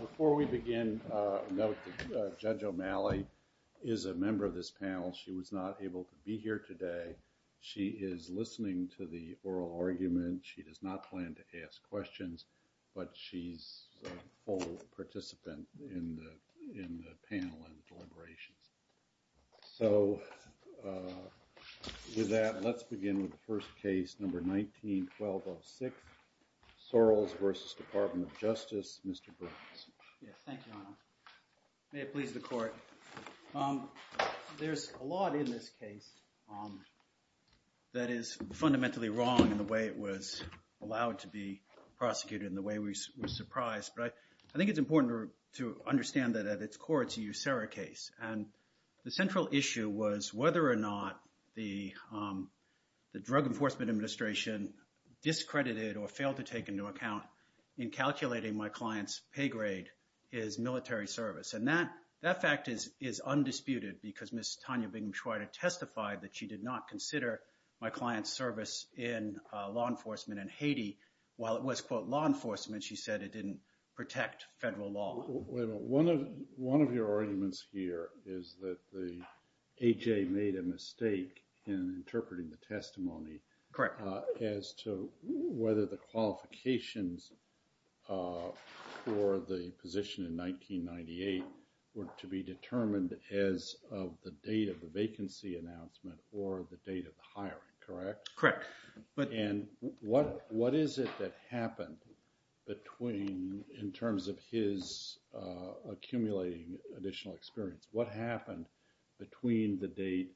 Before we begin, note that Judge O'Malley is a member of this panel. She was not able to be here today. She is listening to the oral argument. She does not plan to ask questions, but she's a full participant in the panel and deliberations. So with that, let's begin with the first case, number 19-1206, Sorrells v. Department of Justice. Yes, thank you, Your Honor. May it please the Court. There's a lot in this case that is fundamentally wrong in the way it was allowed to be prosecuted and the way we were surprised, but I think it's important to understand that at its core it's a USERRA case. And the central issue was whether or not the Drug Enforcement Administration discredited or failed to take into account in calculating my client's pay grade is military service. And that fact is undisputed because Ms. Tanya Bingham-Schweider testified that she did not consider my client's service in law enforcement in Haiti. While it was, quote, law enforcement, she said it didn't protect federal law. Wait a minute. One of your arguments here is that the A.J. made a mistake in interpreting the testimony. Correct. As to whether the qualifications for the position in 1998 were to be determined as of the date of the vacancy announcement or the date of the hiring, correct? Correct. And what is it that happened between, in terms of his accumulating additional experience, what happened between the date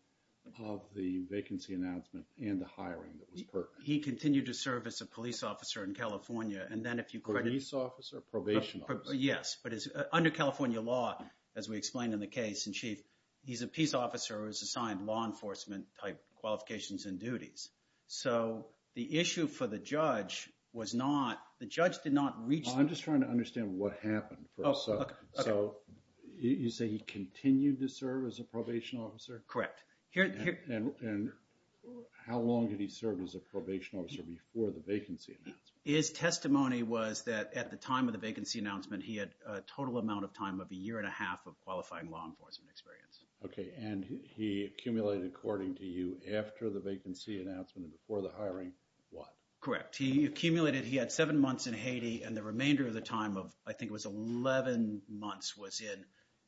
of the vacancy announcement and the hiring that was pertinent? He continued to serve as a police officer in California and then if you credit... Police officer or probation officer? Yes, but under California law, as we explained in the case in Chief, he's a peace officer who's assigned law enforcement type qualifications and duties. So the issue for the judge was not, the judge did not reach... I'm just trying to understand what happened. So you say he continued to serve as a probation officer? Correct. And how long did he serve as a probation officer before the vacancy announcement? His testimony was that at the time of the vacancy announcement, he had a total amount of time of a year and a half of qualifying law enforcement experience. Okay. And he accumulated, according to you, after the vacancy announcement and before the hiring, what? Correct. He accumulated, he had seven months in Haiti and the remainder of the time of, I think it was 11 months was in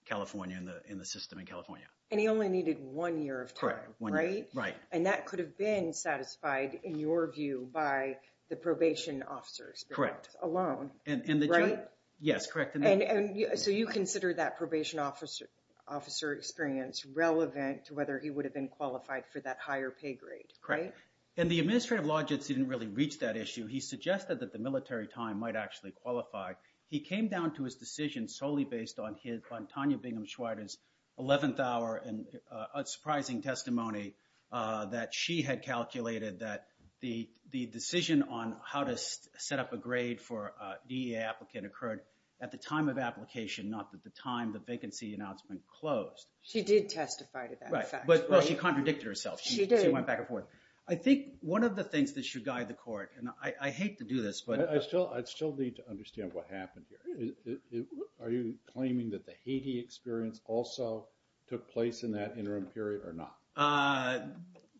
California, in the system in California. And he only needed one year of time, right? Correct, one year. Right. And that could have been satisfied, in your view, by the probation officer's experience alone, right? Correct. Yes, correct. And so you consider that probation officer experience relevant to whether he would have been qualified for that higher pay grade, right? Correct. And the administrative logics didn't really reach that issue. He suggested that the military time might actually qualify. He came down to his decision solely based on Tanya Bingham Schweider's 11th hour and unsurprising testimony that she had calculated that the decision on how to set up a grade for a DEA applicant occurred at the time of application, not at the time the vacancy announcement closed. She did testify to that fact, right? Right. Well, she contradicted herself. She did. And so she went back and forth. I think one of the things that should guide the court, and I hate to do this, but- I still need to understand what happened here. Are you claiming that the Haiti experience also took place in that interim period or not?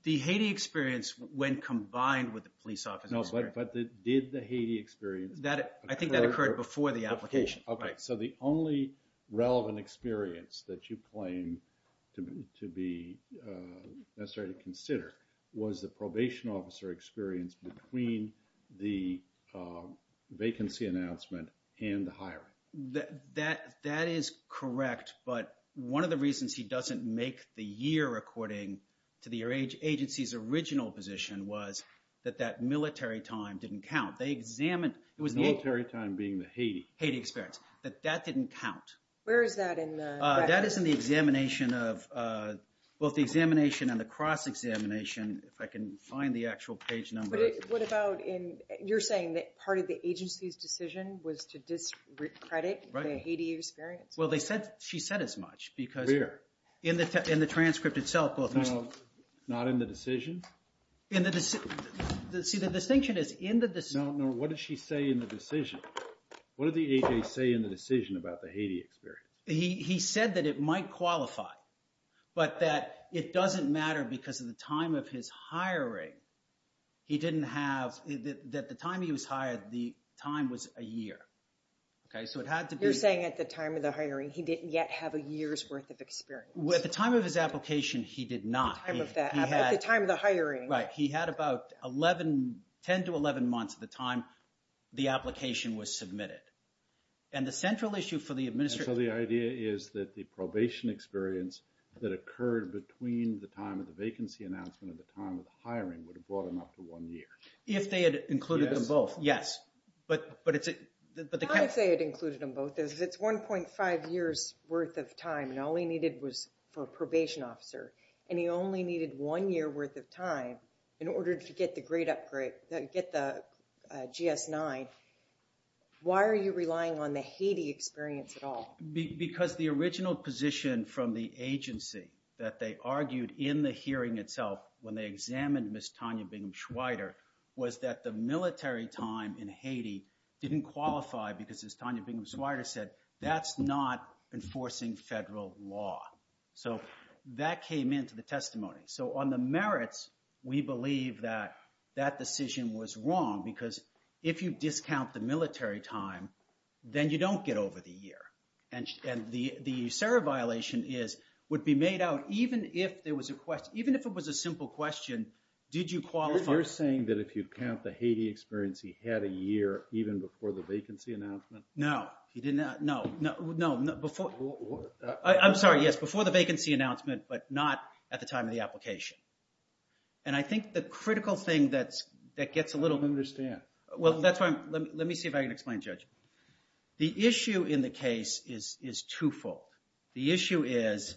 The Haiti experience, when combined with the police officer experience- No, but did the Haiti experience- I think that occurred before the application. Before, okay. Right. So the only relevant experience that you claim to be necessary to consider was the probation officer experience between the vacancy announcement and the hiring. That is correct, but one of the reasons he doesn't make the year according to the agency's original position was that that military time didn't count. They examined- Military time being the Haiti? The Haiti experience. The Haiti experience. That that didn't count. Where is that in the- That is in the examination of, both the examination and the cross-examination, if I can find the actual page number. What about in, you're saying that part of the agency's decision was to discredit the Haiti experience? Right. Well, they said, she said as much, because- Where? In the transcript itself, both- Not in the decision? See, the distinction is in the- No, no. What did she say in the decision? What did the agency say in the decision about the Haiti experience? He said that it might qualify, but that it doesn't matter because of the time of his hiring, he didn't have, that the time he was hired, the time was a year. Okay, so it had to be- You're saying at the time of the hiring, he didn't yet have a year's worth of experience. With the time of his application, he did not. The time of that application. He had- At the time of the hiring. Right, he had about 11, 10 to 11 months at the time the application was submitted. And the central issue for the administrator- So the idea is that the probation experience that occurred between the time of the vacancy announcement and the time of the hiring would have brought him up to one year. If they had included them both, yes. But it's- How I say it included them both is it's 1.5 years worth of time, and all he needed was for a probation officer. And he only needed one year worth of time in order to get the GS-9. Why are you relying on the Haiti experience at all? Because the original position from the agency that they argued in the hearing itself when they examined Ms. Tanya Bingham-Schweider was that the military time in Haiti didn't enforcing federal law. So that came into the testimony. So on the merits, we believe that that decision was wrong because if you discount the military time, then you don't get over the year. And the CERA violation is, would be made out even if there was a question, even if it was a simple question, did you qualify- You're saying that if you count the Haiti experience, he had a year even before the vacancy announcement? No. He did not. No. No. No. Before. I'm sorry. Yes. Before the vacancy announcement, but not at the time of the application. And I think the critical thing that gets a little- Let me understand. Well, that's why I'm, let me see if I can explain, Judge. The issue in the case is twofold. The issue is,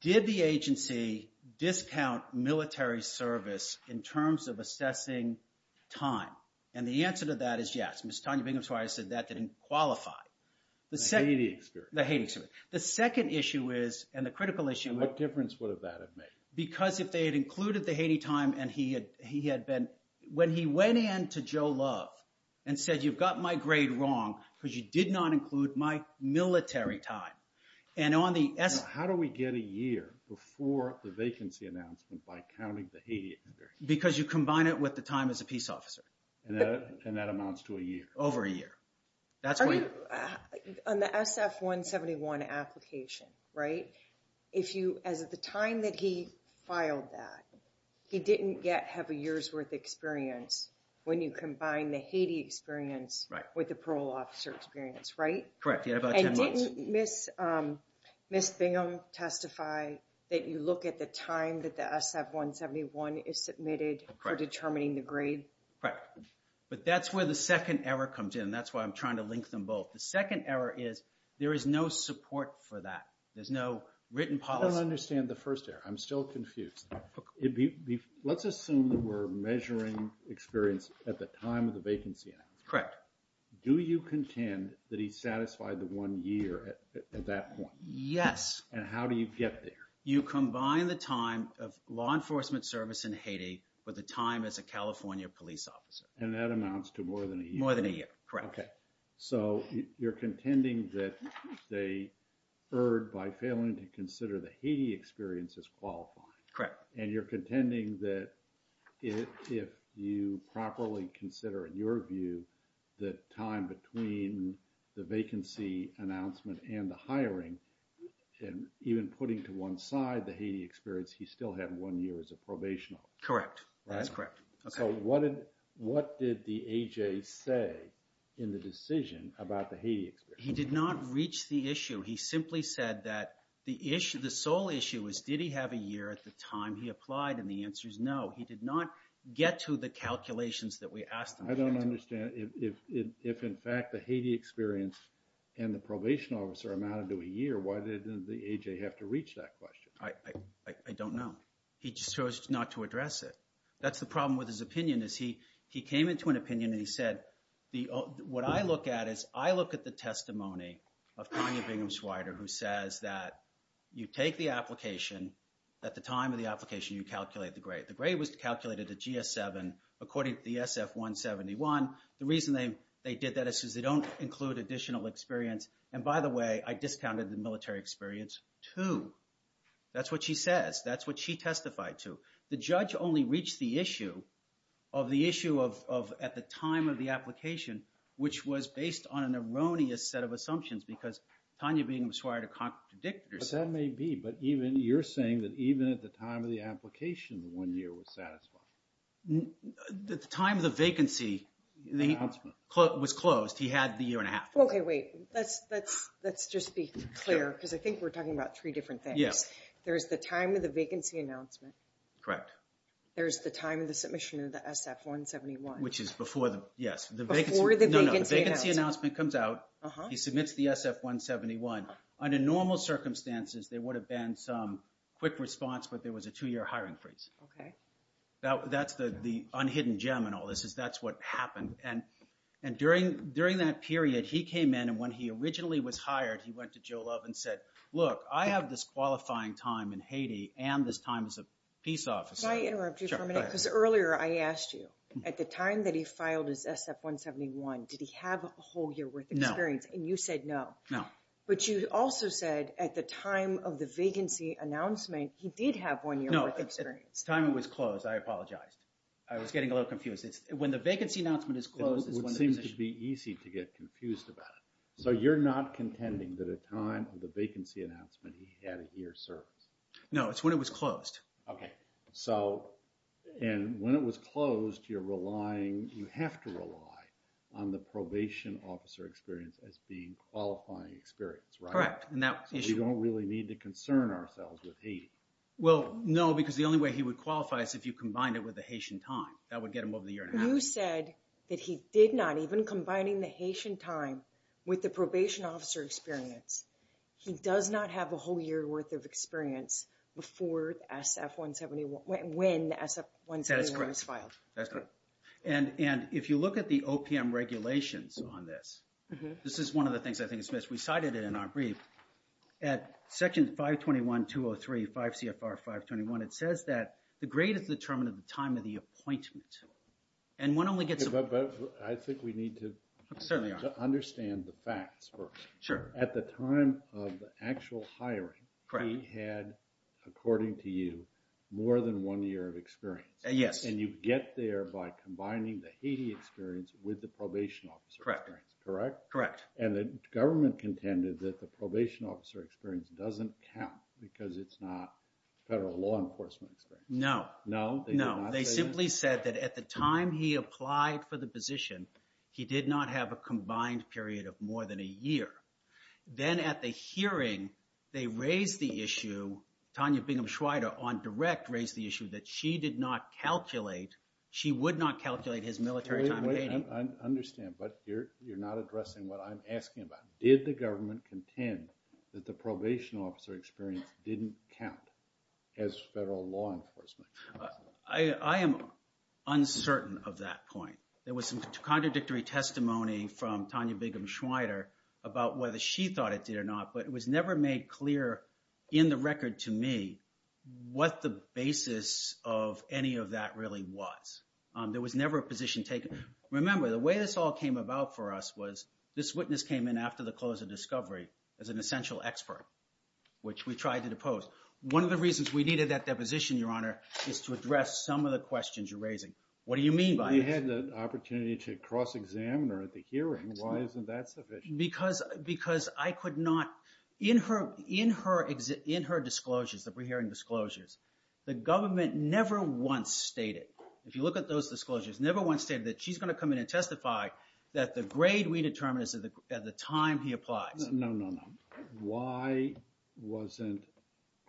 did the agency discount military service in terms of assessing time? And the answer to that is yes. Ms. Tanya Bingham's lawyer said that didn't qualify. The Haiti experience. The Haiti experience. The second issue is, and the critical issue- And what difference would have that have made? Because if they had included the Haiti time and he had been, when he went in to Joe Love and said, you've got my grade wrong because you did not include my military time. And on the- Now, how do we get a year before the vacancy announcement by counting the Haiti experience? Because you combine it with the time as a peace officer. Correct. And that amounts to a year. Over a year. That's why- On the SF-171 application, right? If you, as of the time that he filed that, he didn't yet have a year's worth experience when you combine the Haiti experience with the parole officer experience, right? Correct. He had about 10 months. And didn't Ms. Bingham testify that you look at the time that the SF-171 is submitted for determining the grade? Correct. But that's where the second error comes in, and that's why I'm trying to link them both. The second error is there is no support for that. There's no written policy- I don't understand the first error. I'm still confused. Let's assume that we're measuring experience at the time of the vacancy announcement. Correct. Do you contend that he satisfied the one year at that point? Yes. And how do you get there? You combine the time of law enforcement service in Haiti with the time as a California police officer. And that amounts to more than a year. More than a year. Correct. Okay. So you're contending that they erred by failing to consider the Haiti experience as qualifying. Correct. And you're contending that if you properly consider, in your view, the time between the aside the Haiti experience, he still had one year as a probation officer. Correct. That's correct. Okay. So what did the AJ say in the decision about the Haiti experience? He did not reach the issue. He simply said that the sole issue was, did he have a year at the time he applied? And the answer is no. He did not get to the calculations that we asked him to get to. I don't understand. If in fact the Haiti experience and the probation officer amounted to a year, why didn't the I don't know. He just chose not to address it. That's the problem with his opinion is he came into an opinion and he said, what I look at is I look at the testimony of Tanya Bingham-Schweider who says that you take the application, at the time of the application you calculate the grade. The grade was calculated at GS-7 according to the SF-171. The reason they did that is because they don't include additional experience. And by the way, I discounted the military experience too. That's what she says. That's what she testified to. The judge only reached the issue of the issue of at the time of the application, which was based on an erroneous set of assumptions because Tanya Bingham-Schweider contradicted herself. But that may be. But even you're saying that even at the time of the application, one year was satisfied. The time of the vacancy was closed. He had the year and a half. Okay. Wait. Let's just be clear because I think we're talking about three different things. There's the time of the vacancy announcement. Correct. There's the time of the submission of the SF-171. Which is before the... Yes. Before the vacancy announcement. No, no. The vacancy announcement comes out. He submits the SF-171. Under normal circumstances, there would have been some quick response, but there was a two-year hiring freeze. That's the unhidden gem in all this is that's what happened. And during that period, he came in and when he originally was hired, he went to Joe Love and said, look, I have this qualifying time in Haiti and this time as a peace officer. Can I interrupt you for a minute? Sure. Go ahead. Because earlier I asked you, at the time that he filed his SF-171, did he have a whole year worth of experience? No. And you said no. No. But you also said at the time of the vacancy announcement, he did have one year worth of experience. No. At the time it was closed, I apologized. I was getting a little confused. It's when the vacancy announcement is closed is when the position- It would seem to be easy to get confused about it. So you're not contending that at the time of the vacancy announcement, he had a year's service? No. It's when it was closed. Okay. So, and when it was closed, you're relying, you have to rely on the probation officer experience as being qualifying experience, right? Correct. And that issue- So we don't really need to concern ourselves with Haiti. Well, no, because the only way he would qualify is if you combined it with the Haitian time. That would get him over the year and a half. You said that he did not, even combining the Haitian time with the probation officer experience, he does not have a whole year worth of experience before SF-171, when SF-171 was filed. That's correct. That's correct. And if you look at the OPM regulations on this, this is one of the things I think is missed. We cited it in our brief. At section 521-203, 5 CFR 521, it says that the grade is determined at the time of the appointment. And one only gets- But I think we need to- Certainly. To understand the facts first. Sure. At the time of the actual hiring- Correct. He had, according to you, more than one year of experience. Yes. And you get there by combining the Haiti experience with the probation officer experience. Correct. Correct? Correct. And the government contended that the probation officer experience doesn't count because it's not federal law enforcement experience. No. No? They did not say that? No. They simply said that at the time he applied for the position, he did not have a combined period of more than a year. Then at the hearing, they raised the issue, Tanya Bingham-Schweider on direct raised the issue that she did not calculate, she would not calculate his military time in Haiti. I understand, but you're not addressing what I'm asking about. Did the government contend that the probation officer experience didn't count as federal law enforcement? I am uncertain of that point. There was some contradictory testimony from Tanya Bingham-Schweider about whether she thought it did or not, but it was never made clear in the record to me what the basis of any of that really was. There was never a position taken. Remember, the way this all came about for us was this witness came in after the close of discovery as an essential expert, which we tried to depose. One of the reasons we needed that deposition, Your Honor, is to address some of the questions you're raising. What do you mean by this? She had the opportunity to cross-examine her at the hearing, why isn't that sufficient? Because I could not... In her disclosures, the pre-hearing disclosures, the government never once stated, if you look at those disclosures, never once stated that she's going to come in and testify that the grade we determined is at the time he applies. No, no, no. Why wasn't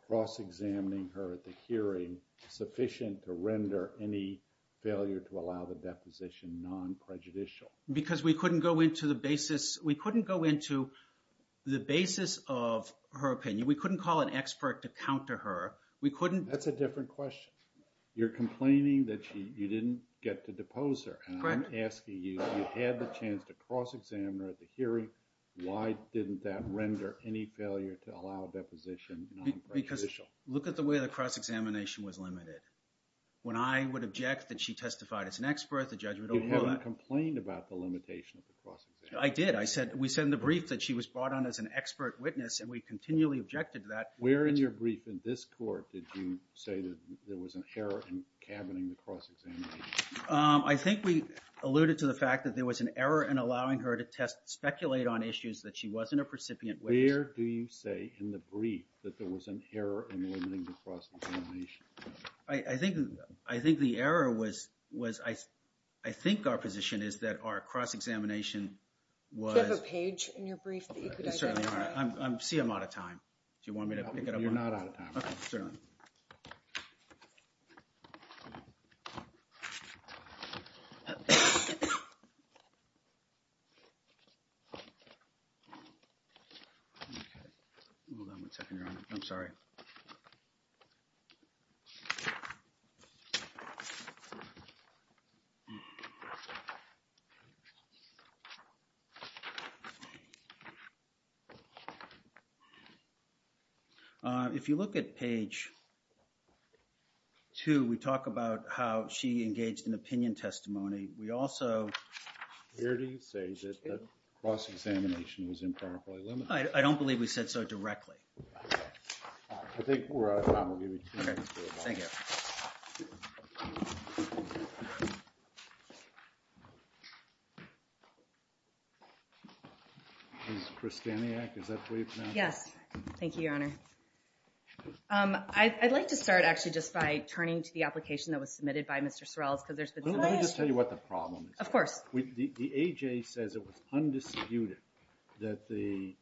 cross-examining her at the hearing sufficient to render any failure to allow the deposition non-prejudicial? Because we couldn't go into the basis of her opinion. We couldn't call an expert to counter her. We couldn't... That's a different question. You're complaining that you didn't get to depose her. Correct. I'm asking you, you had the chance to cross-examine her at the hearing, why didn't that render any failure to allow deposition non-prejudicial? Because look at the way the cross-examination was limited. When I would object that she testified as an expert, the judge would overlook that. You haven't complained about the limitation of the cross-examination. I did. We said in the brief that she was brought on as an expert witness, and we continually objected to that. Where in your brief in this court did you say that there was an error in cabining the cross-examination? I think we alluded to the fact that there was an error in allowing her to test, speculate on issues that she wasn't a recipient with. Where do you say in the brief that there was an error in limiting the cross-examination? I think the error was... I think our position is that our cross-examination was... Do you have a page in your brief that you could identify? Certainly, Your Honor. I see I'm out of time. Do you want me to pick it up? You're not out of time. Okay, certainly. Hold on one second, Your Honor. I'm sorry. If you look at page two, we talk about how she engaged in opinion testimony. We also... Where do you say that the cross-examination was improperly limited? I don't believe we said so directly. I think we're out of time. We'll give you two minutes. Okay. Thank you. Ms. Kristaniak, is that the way you pronounce it? Yes. Thank you, Your Honor. I'd like to start, actually, just by turning to the application that was submitted by Mr. Sorrell. Let me just tell you what the problem is. Of course. The AJ says it was undisputed that the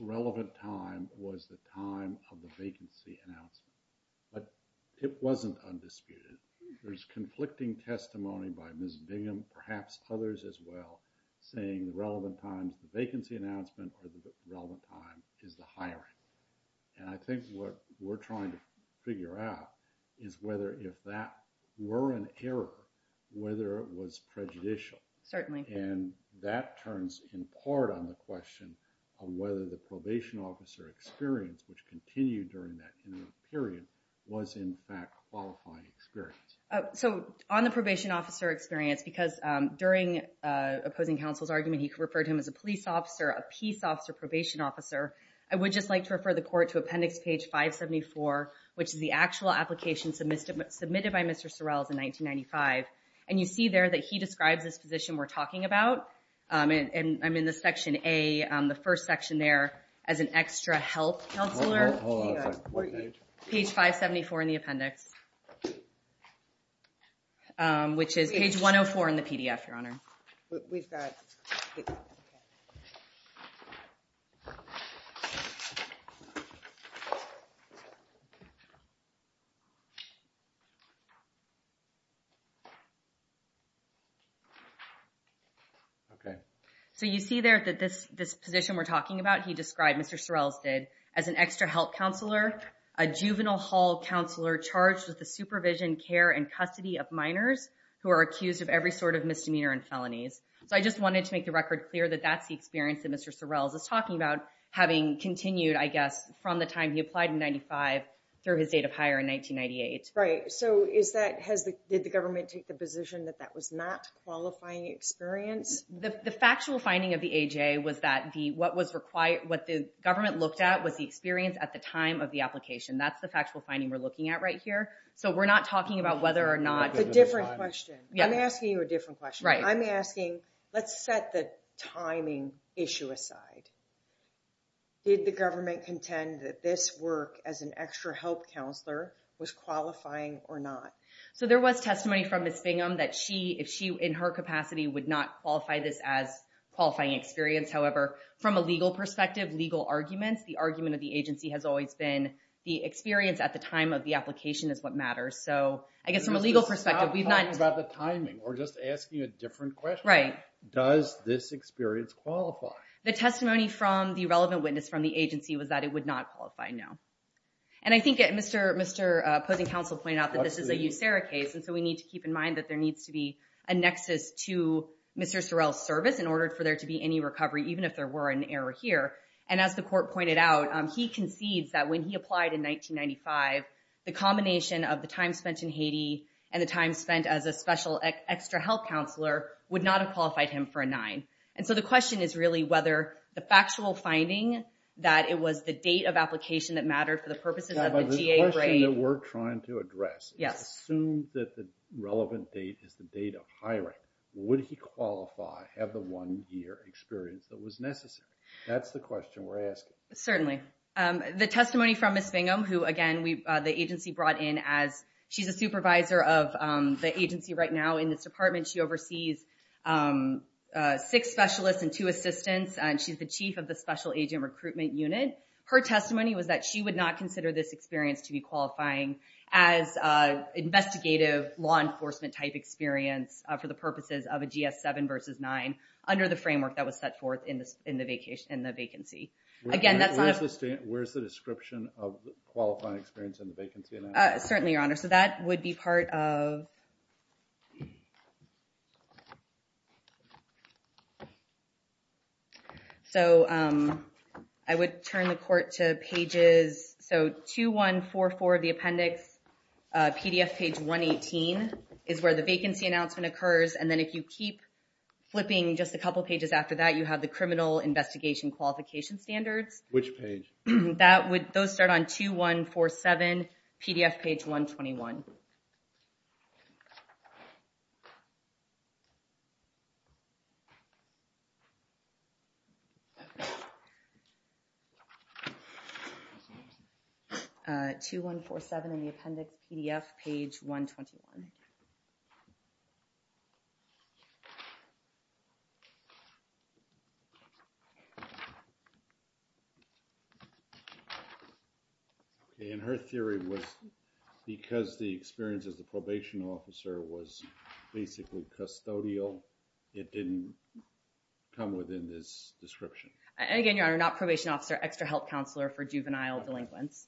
relevant time was the time of the vacancy announcement. But it wasn't undisputed. There's conflicting testimony by Ms. Bingham, perhaps others as well, saying the relevant time is the vacancy announcement or the relevant time is the hiring. And I think what we're trying to figure out is whether if that were an error, whether it was prejudicial. Certainly. And that turns, in part, on the question of whether the probation officer experience, which continued during that period, was, in fact, a qualifying experience. So, on the probation officer experience, because during opposing counsel's argument, he referred him as a police officer, a peace officer, probation officer, I would just like to refer the court to appendix page 574, which is the actual application submitted by Mr. Sorrell in 1995. And you see there that he describes this position we're talking about. And I'm in the section A, the first section there, as an extra help counselor. Hold on. What page? Page 574 in the appendix, which is page 104 in the PDF, Your Honor. We've got... Okay. So, you see there that this position we're talking about, he described, Mr. Sorrell did, as an extra help counselor, a juvenile hall counselor charged with the supervision, care, and custody of minors who are accused of every sort of misdemeanor and felonies. So, I just wanted to make the record clear that that's the experience that Mr. Sorrell is talking about, having continued, I guess, from the time he applied in 1995 through his date of hire in 1998. Right. So, is that... Did the government take the position that that was not a qualifying experience? The factual finding of the AJ was that what the government looked at was the experience at the time of the application. That's the factual finding we're looking at right here. So, we're not talking about whether or not... A different question. Yeah. I'm asking you a different question. Right. I'm asking, let's set the timing issue aside. Did the government contend that this work as an extra help counselor was qualifying or not? So, there was testimony from Ms. Bingham that she, if she, in her capacity, would not qualify this as qualifying experience. However, from a legal perspective, legal arguments, the argument of the agency has always been that the experience at the time of the application is what matters. So, I guess, from a legal perspective, we've not... We're not talking about the timing. We're just asking a different question. Right. Does this experience qualify? The testimony from the relevant witness from the agency was that it would not qualify, no. And I think Mr. Posing Counsel pointed out that this is a USERRA case, and so we need to keep in mind that there needs to be a nexus to Mr. Sorrell's service in order for there to be any recovery, even if there were an error here. And as the court pointed out, he concedes that when he applied in 1995, the combination of the time spent in Haiti and the time spent as a special extra help counselor would not have qualified him for a 9. And so the question is really whether the factual finding that it was the date of application that mattered for the purposes of the GA grade... The question that we're trying to address... Yes. Assume that the relevant date is the date of hiring. Would he qualify, have the one year experience that was necessary? That's the question we're asking. Certainly. The testimony from Ms. Bingham, who again, the agency brought in as... She's a supervisor of the agency right now in this department. She oversees six specialists and two assistants. She's the chief of the special agent recruitment unit. Her testimony was that she would not consider this experience to be qualifying as investigative law enforcement type experience for the purposes of a GS-7 versus 9 under the framework that was set forth in the vacancy. Again, that's not... Where's the description of qualifying experience in the vacancy announcement? Certainly, Your Honor. So that would be part of... So I would turn the court to pages... So 2144 of the appendix, PDF page 118 is where the vacancy announcement occurs. And then if you keep flipping just a couple of pages after that, you have the criminal investigation qualification standards. Which page? Those start on 2147, PDF page 121. 2147 in the appendix, PDF page 121. Thank you. And her theory was because the experience as a probation officer was basically custodial, it didn't come within this description. Again, Your Honor, not probation officer, extra help counselor for juvenile delinquents.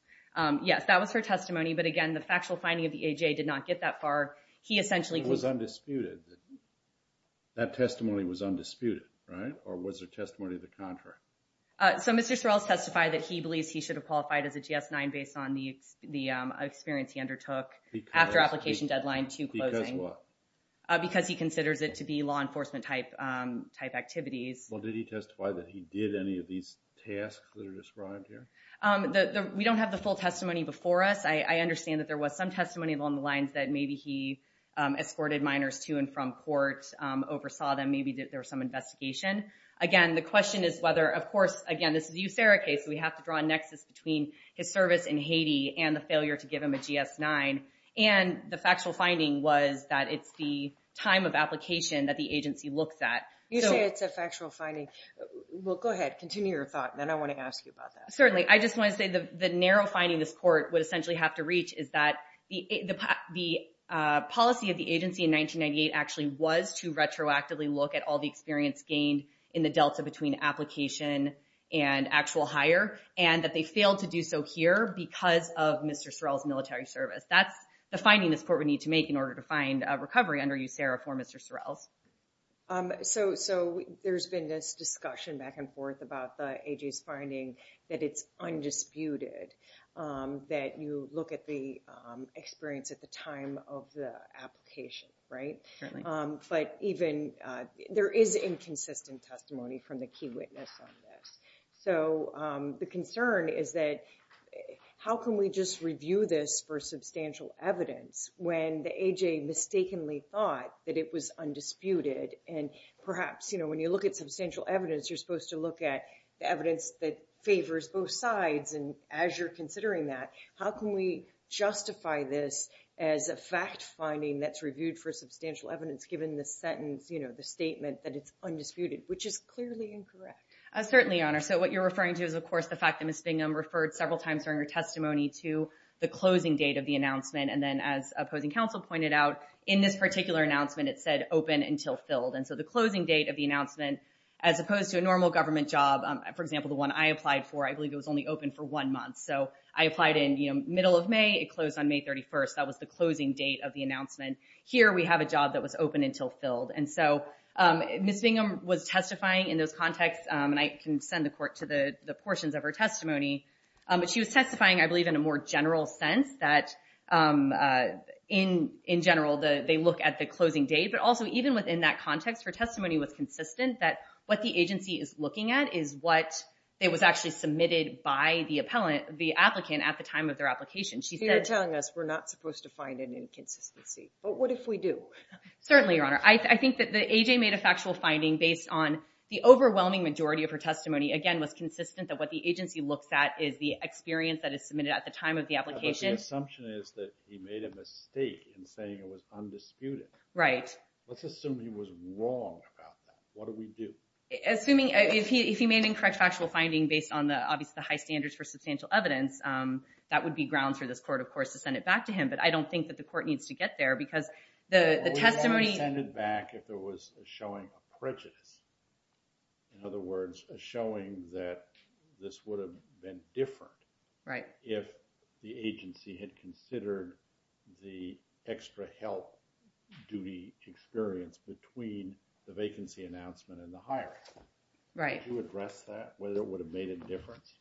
Yes, that was her testimony. But again, the factual finding of the AJA did not get that far. He essentially... So it was undisputed that that testimony was undisputed, right? Or was her testimony the contrary? So Mr. Sorrell has testified that he believes he should have qualified as a GS-9 based on the experience he undertook after application deadline to closing. Because what? Because he considers it to be law enforcement type activities. Well, did he testify that he did any of these tasks that are described here? We don't have the full testimony before us. I understand that there was some testimony along the lines that maybe he escorted minors to and from court, oversaw them. Maybe there was some investigation. Again, the question is whether... Of course, again, this is a eutheric case. We have to draw a nexus between his service in Haiti and the failure to give him a GS-9. And the factual finding was that it's the time of application that the agency looks at. You say it's a factual finding. Well, go ahead. Continue your thought. Then I want to ask you about that. Certainly. I just want to say the narrow finding this court would essentially have to reach is that the policy of the agency in 1998 actually was to retroactively look at all the experience gained in the delta between application and actual hire. And that they failed to do so here because of Mr. Sorrell's military service. That's the finding this court would need to make in order to find recovery under USERRA for Mr. Sorrell. So there's been this discussion back and forth about the A.J.'s finding that it's undisputed that you look at the experience at the time of the application, right? Certainly. But even... There is inconsistent testimony from the key witness on this. So the concern is that how can we just review this for substantial evidence when the A.J. mistakenly thought that it was undisputed? And perhaps, you know, when you look at substantial evidence, you're supposed to look at the evidence that favors both sides. And as you're considering that, how can we justify this as a fact finding that's reviewed for substantial evidence given the sentence, you know, the statement that it's undisputed, which is clearly incorrect. Certainly, Your Honor. So what you're referring to is, of course, the fact that Ms. Bingham referred several times during her testimony to the closing date of the announcement. And then as opposing counsel pointed out, in this particular announcement, it said open until filled. And so the closing date of the announcement, as opposed to a normal government job, for example, the one I applied for, I believe it was only open for one month. So I applied in, you know, middle of May. It closed on May 31st. That was the closing date of the announcement. Here we have a job that was open until filled. And so Ms. Bingham was testifying in those contexts. And I can send the court to the portions of her testimony. But she was testifying, I believe, in a more general sense that in general, they look at the closing date. But also, even within that context, her testimony was consistent that what the agency is looking at is what was actually submitted by the applicant at the time of their application. You're telling us we're not supposed to find an inconsistency. But what if we do? Certainly, Your Honor. I think that AJ made a factual finding based on the overwhelming majority of her testimony, again, was consistent that what the agency looks at is the experience that is submitted at the time of the application. But the assumption is that he made a mistake in saying it was undisputed. Right. Let's assume he was wrong about that. What do we do? Assuming... If he made an incorrect factual finding based on, obviously, the high standards for substantial evidence, that would be grounds for this court, of course, to send it back to him. But I don't think that the court needs to get there because the testimony... If there was a showing of prejudice, in other words, a showing that this would have been Right. ...if the agency had considered the extra help duty experience between the vacancy announcement and the hiring. Right. Would you address that, whether it would have made a difference?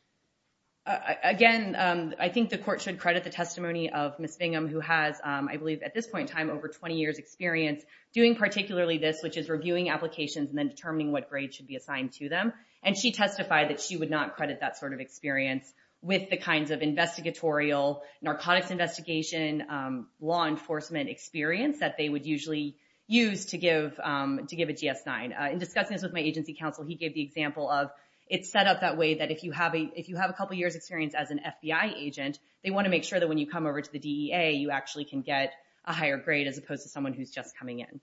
Again, I think the court should credit the testimony of Ms. Bingham, who has, I believe, at this point in time, over 20 years' experience doing particularly this, which is reviewing applications and then determining what grade should be assigned to them. And she testified that she would not credit that sort of experience with the kinds of investigatorial, narcotics investigation, law enforcement experience that they would usually use to give a GS-9. In discussing this with my agency counsel, he gave the example of it's set up that way that if you have a couple years' experience as an FBI agent, they want to make sure that when you come over to the DEA, you actually can get a higher grade as opposed to someone who's just coming in.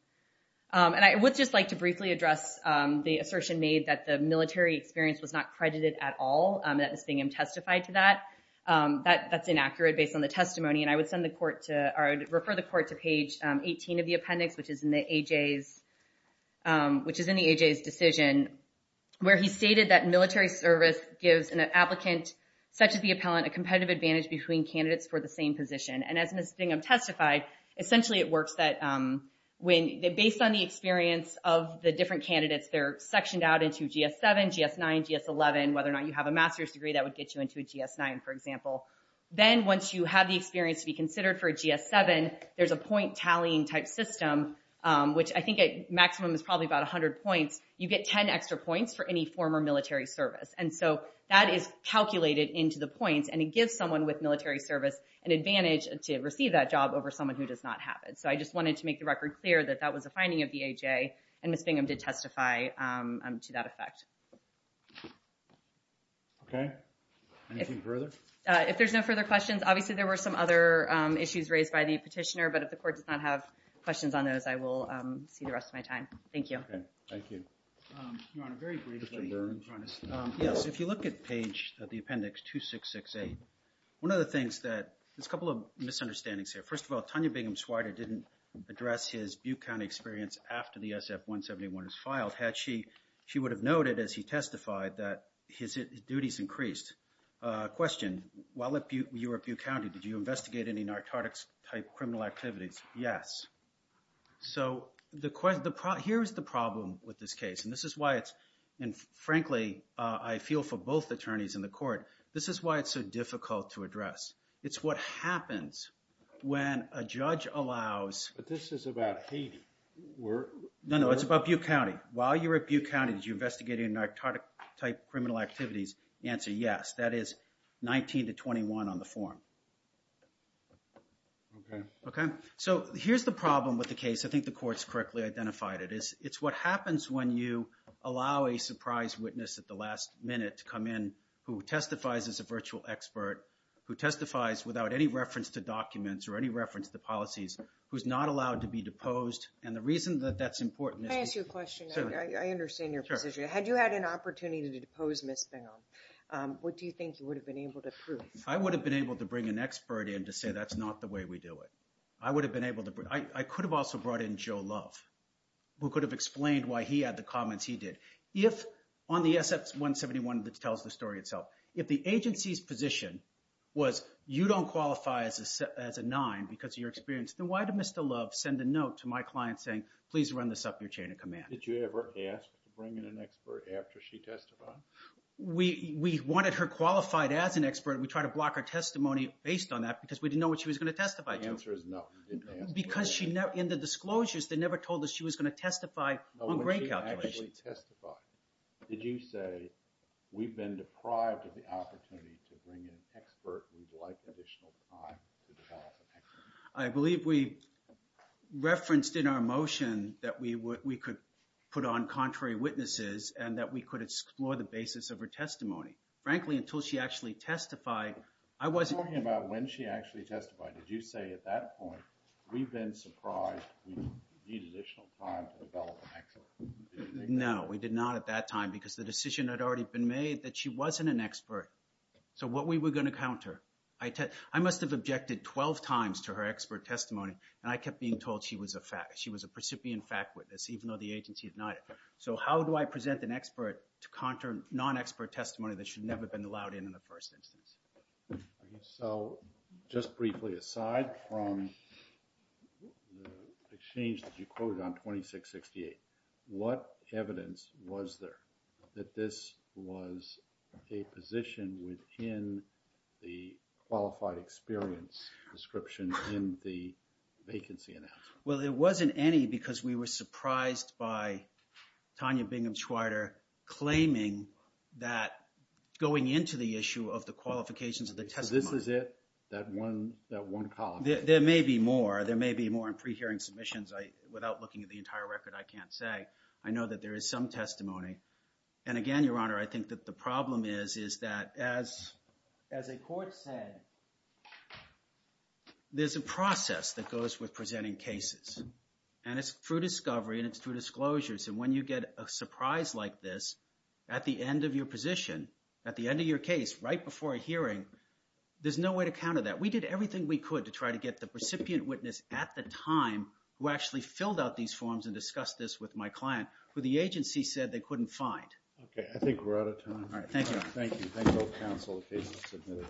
And I would just like to briefly address the assertion made that the military experience was not credited at all. That Ms. Bingham testified to that. That's inaccurate based on the testimony. And I would refer the court to page 18 of the appendix, which is in the AJ's decision, where he stated that military service gives an applicant, such as the appellant, a competitive advantage between candidates for the same position. And as Ms. Bingham testified, essentially it works that based on the experience of the different candidates, they're sectioned out into GS-7, GS-9, GS-11, whether or not you have a master's degree that would get you into a GS-9, for example. Then once you have the experience to be considered for a GS-7, there's a point tallying type system, which I think a maximum is probably about 100 points. You get 10 extra points for any former military service. And so that is calculated into the points. And it gives someone with military service an advantage to receive that job over someone who does not have it. So I just wanted to make the record clear that that was a finding of the AJ. And Ms. Bingham did testify to that effect. OK. Anything further? If there's no further questions, obviously there were some other issues raised by the petitioner. But if the court does not have questions on those, I will see the rest of my time. Thank you. Thank you. Your Honor, very briefly. Mr. Burns. Yes. If you look at page of the appendix 2668, one of the things that there's a couple of misunderstandings here. First of all, Tanya Bingham Swider didn't address his Butte County experience after the SF-171 was filed. Had she, she would have noted as he testified that his duties increased. Question, while you were at Butte County, did you investigate any narcotics-type criminal activities? Yes. So here is the problem with this case. And this is why it's, and frankly, I feel for both attorneys in the court, this is why it's so difficult to address. It's what happens when a judge allows. But this is about Haiti. No, no. It's about Butte County. While you were at Butte County, did you investigate any narcotics-type criminal activities? Answer, yes. That is 19 to 21 on the form. OK. OK. So here's the problem with the case. I think the court's correctly identified it. It's what happens when you allow a surprise witness at the last minute to come in who testifies as a virtual expert, who testifies without any reference to documents or any reference to policies, who's not allowed to be deposed. And the reason that that's important is because... Can I ask you a question? Sure. I understand your position. Sure. Had you had an opportunity to depose Ms. Bingham, what do you think you would have been able to prove? I would have been able to bring an expert in to say that's not the way we do it. I would have been able to... I could have also brought in Joe Love, who could have explained why he had the comments he did. If on the SF-171 that tells the story itself, if the agency's position was you don't qualify as a nine because of your experience, then why did Mr. Love send a note to my client saying, please run this up your chain of command? Did you ever ask to bring in an expert after she testified? We wanted her qualified as an expert. We tried to block her testimony based on that because we didn't know what she was going to testify to. The answer is no. You didn't ask for an expert. Because in the disclosures, they never told us she was going to testify on grade calculations. When she actually testified, did you say, we've been deprived of the opportunity to bring in an expert and we'd like additional time to develop an expert? I believe we referenced in our motion that we could put on contrary witnesses and that we could explore the basis of her testimony. Frankly, until she actually testified, I wasn't... At that point, we've been surprised we need additional time to develop an expert. No, we did not at that time because the decision had already been made that she wasn't an expert. So what we were going to counter, I must have objected 12 times to her expert testimony and I kept being told she was a fact, she was a precipient fact witness even though the agency denied it. So how do I present an expert to counter non-expert testimony that should never have been allowed in in the first instance? So just briefly aside from the exchange that you quoted on 2668, what evidence was there that this was a position within the qualified experience description in the vacancy analysis? Well, there wasn't any because we were surprised by Tanya Bingham-Schweider claiming that going into the issue of the qualifications of the testimony... So this is it, that one column? There may be more. There may be more in pre-hearing submissions. Without looking at the entire record, I can't say. I know that there is some testimony. And again, Your Honor, I think that the problem is that as a court said, there's a process that goes with presenting cases. And it's through discovery and it's through disclosures. And when you get a surprise like this at the end of your position, at the end of your case, right before a hearing, there's no way to counter that. We did everything we could to try to get the recipient witness at the time who actually filled out these forms and discussed this with my client who the agency said they couldn't find. Okay, I think we're out of time. All right, thank you. Thank you. Thank both counsel in case it's submitted.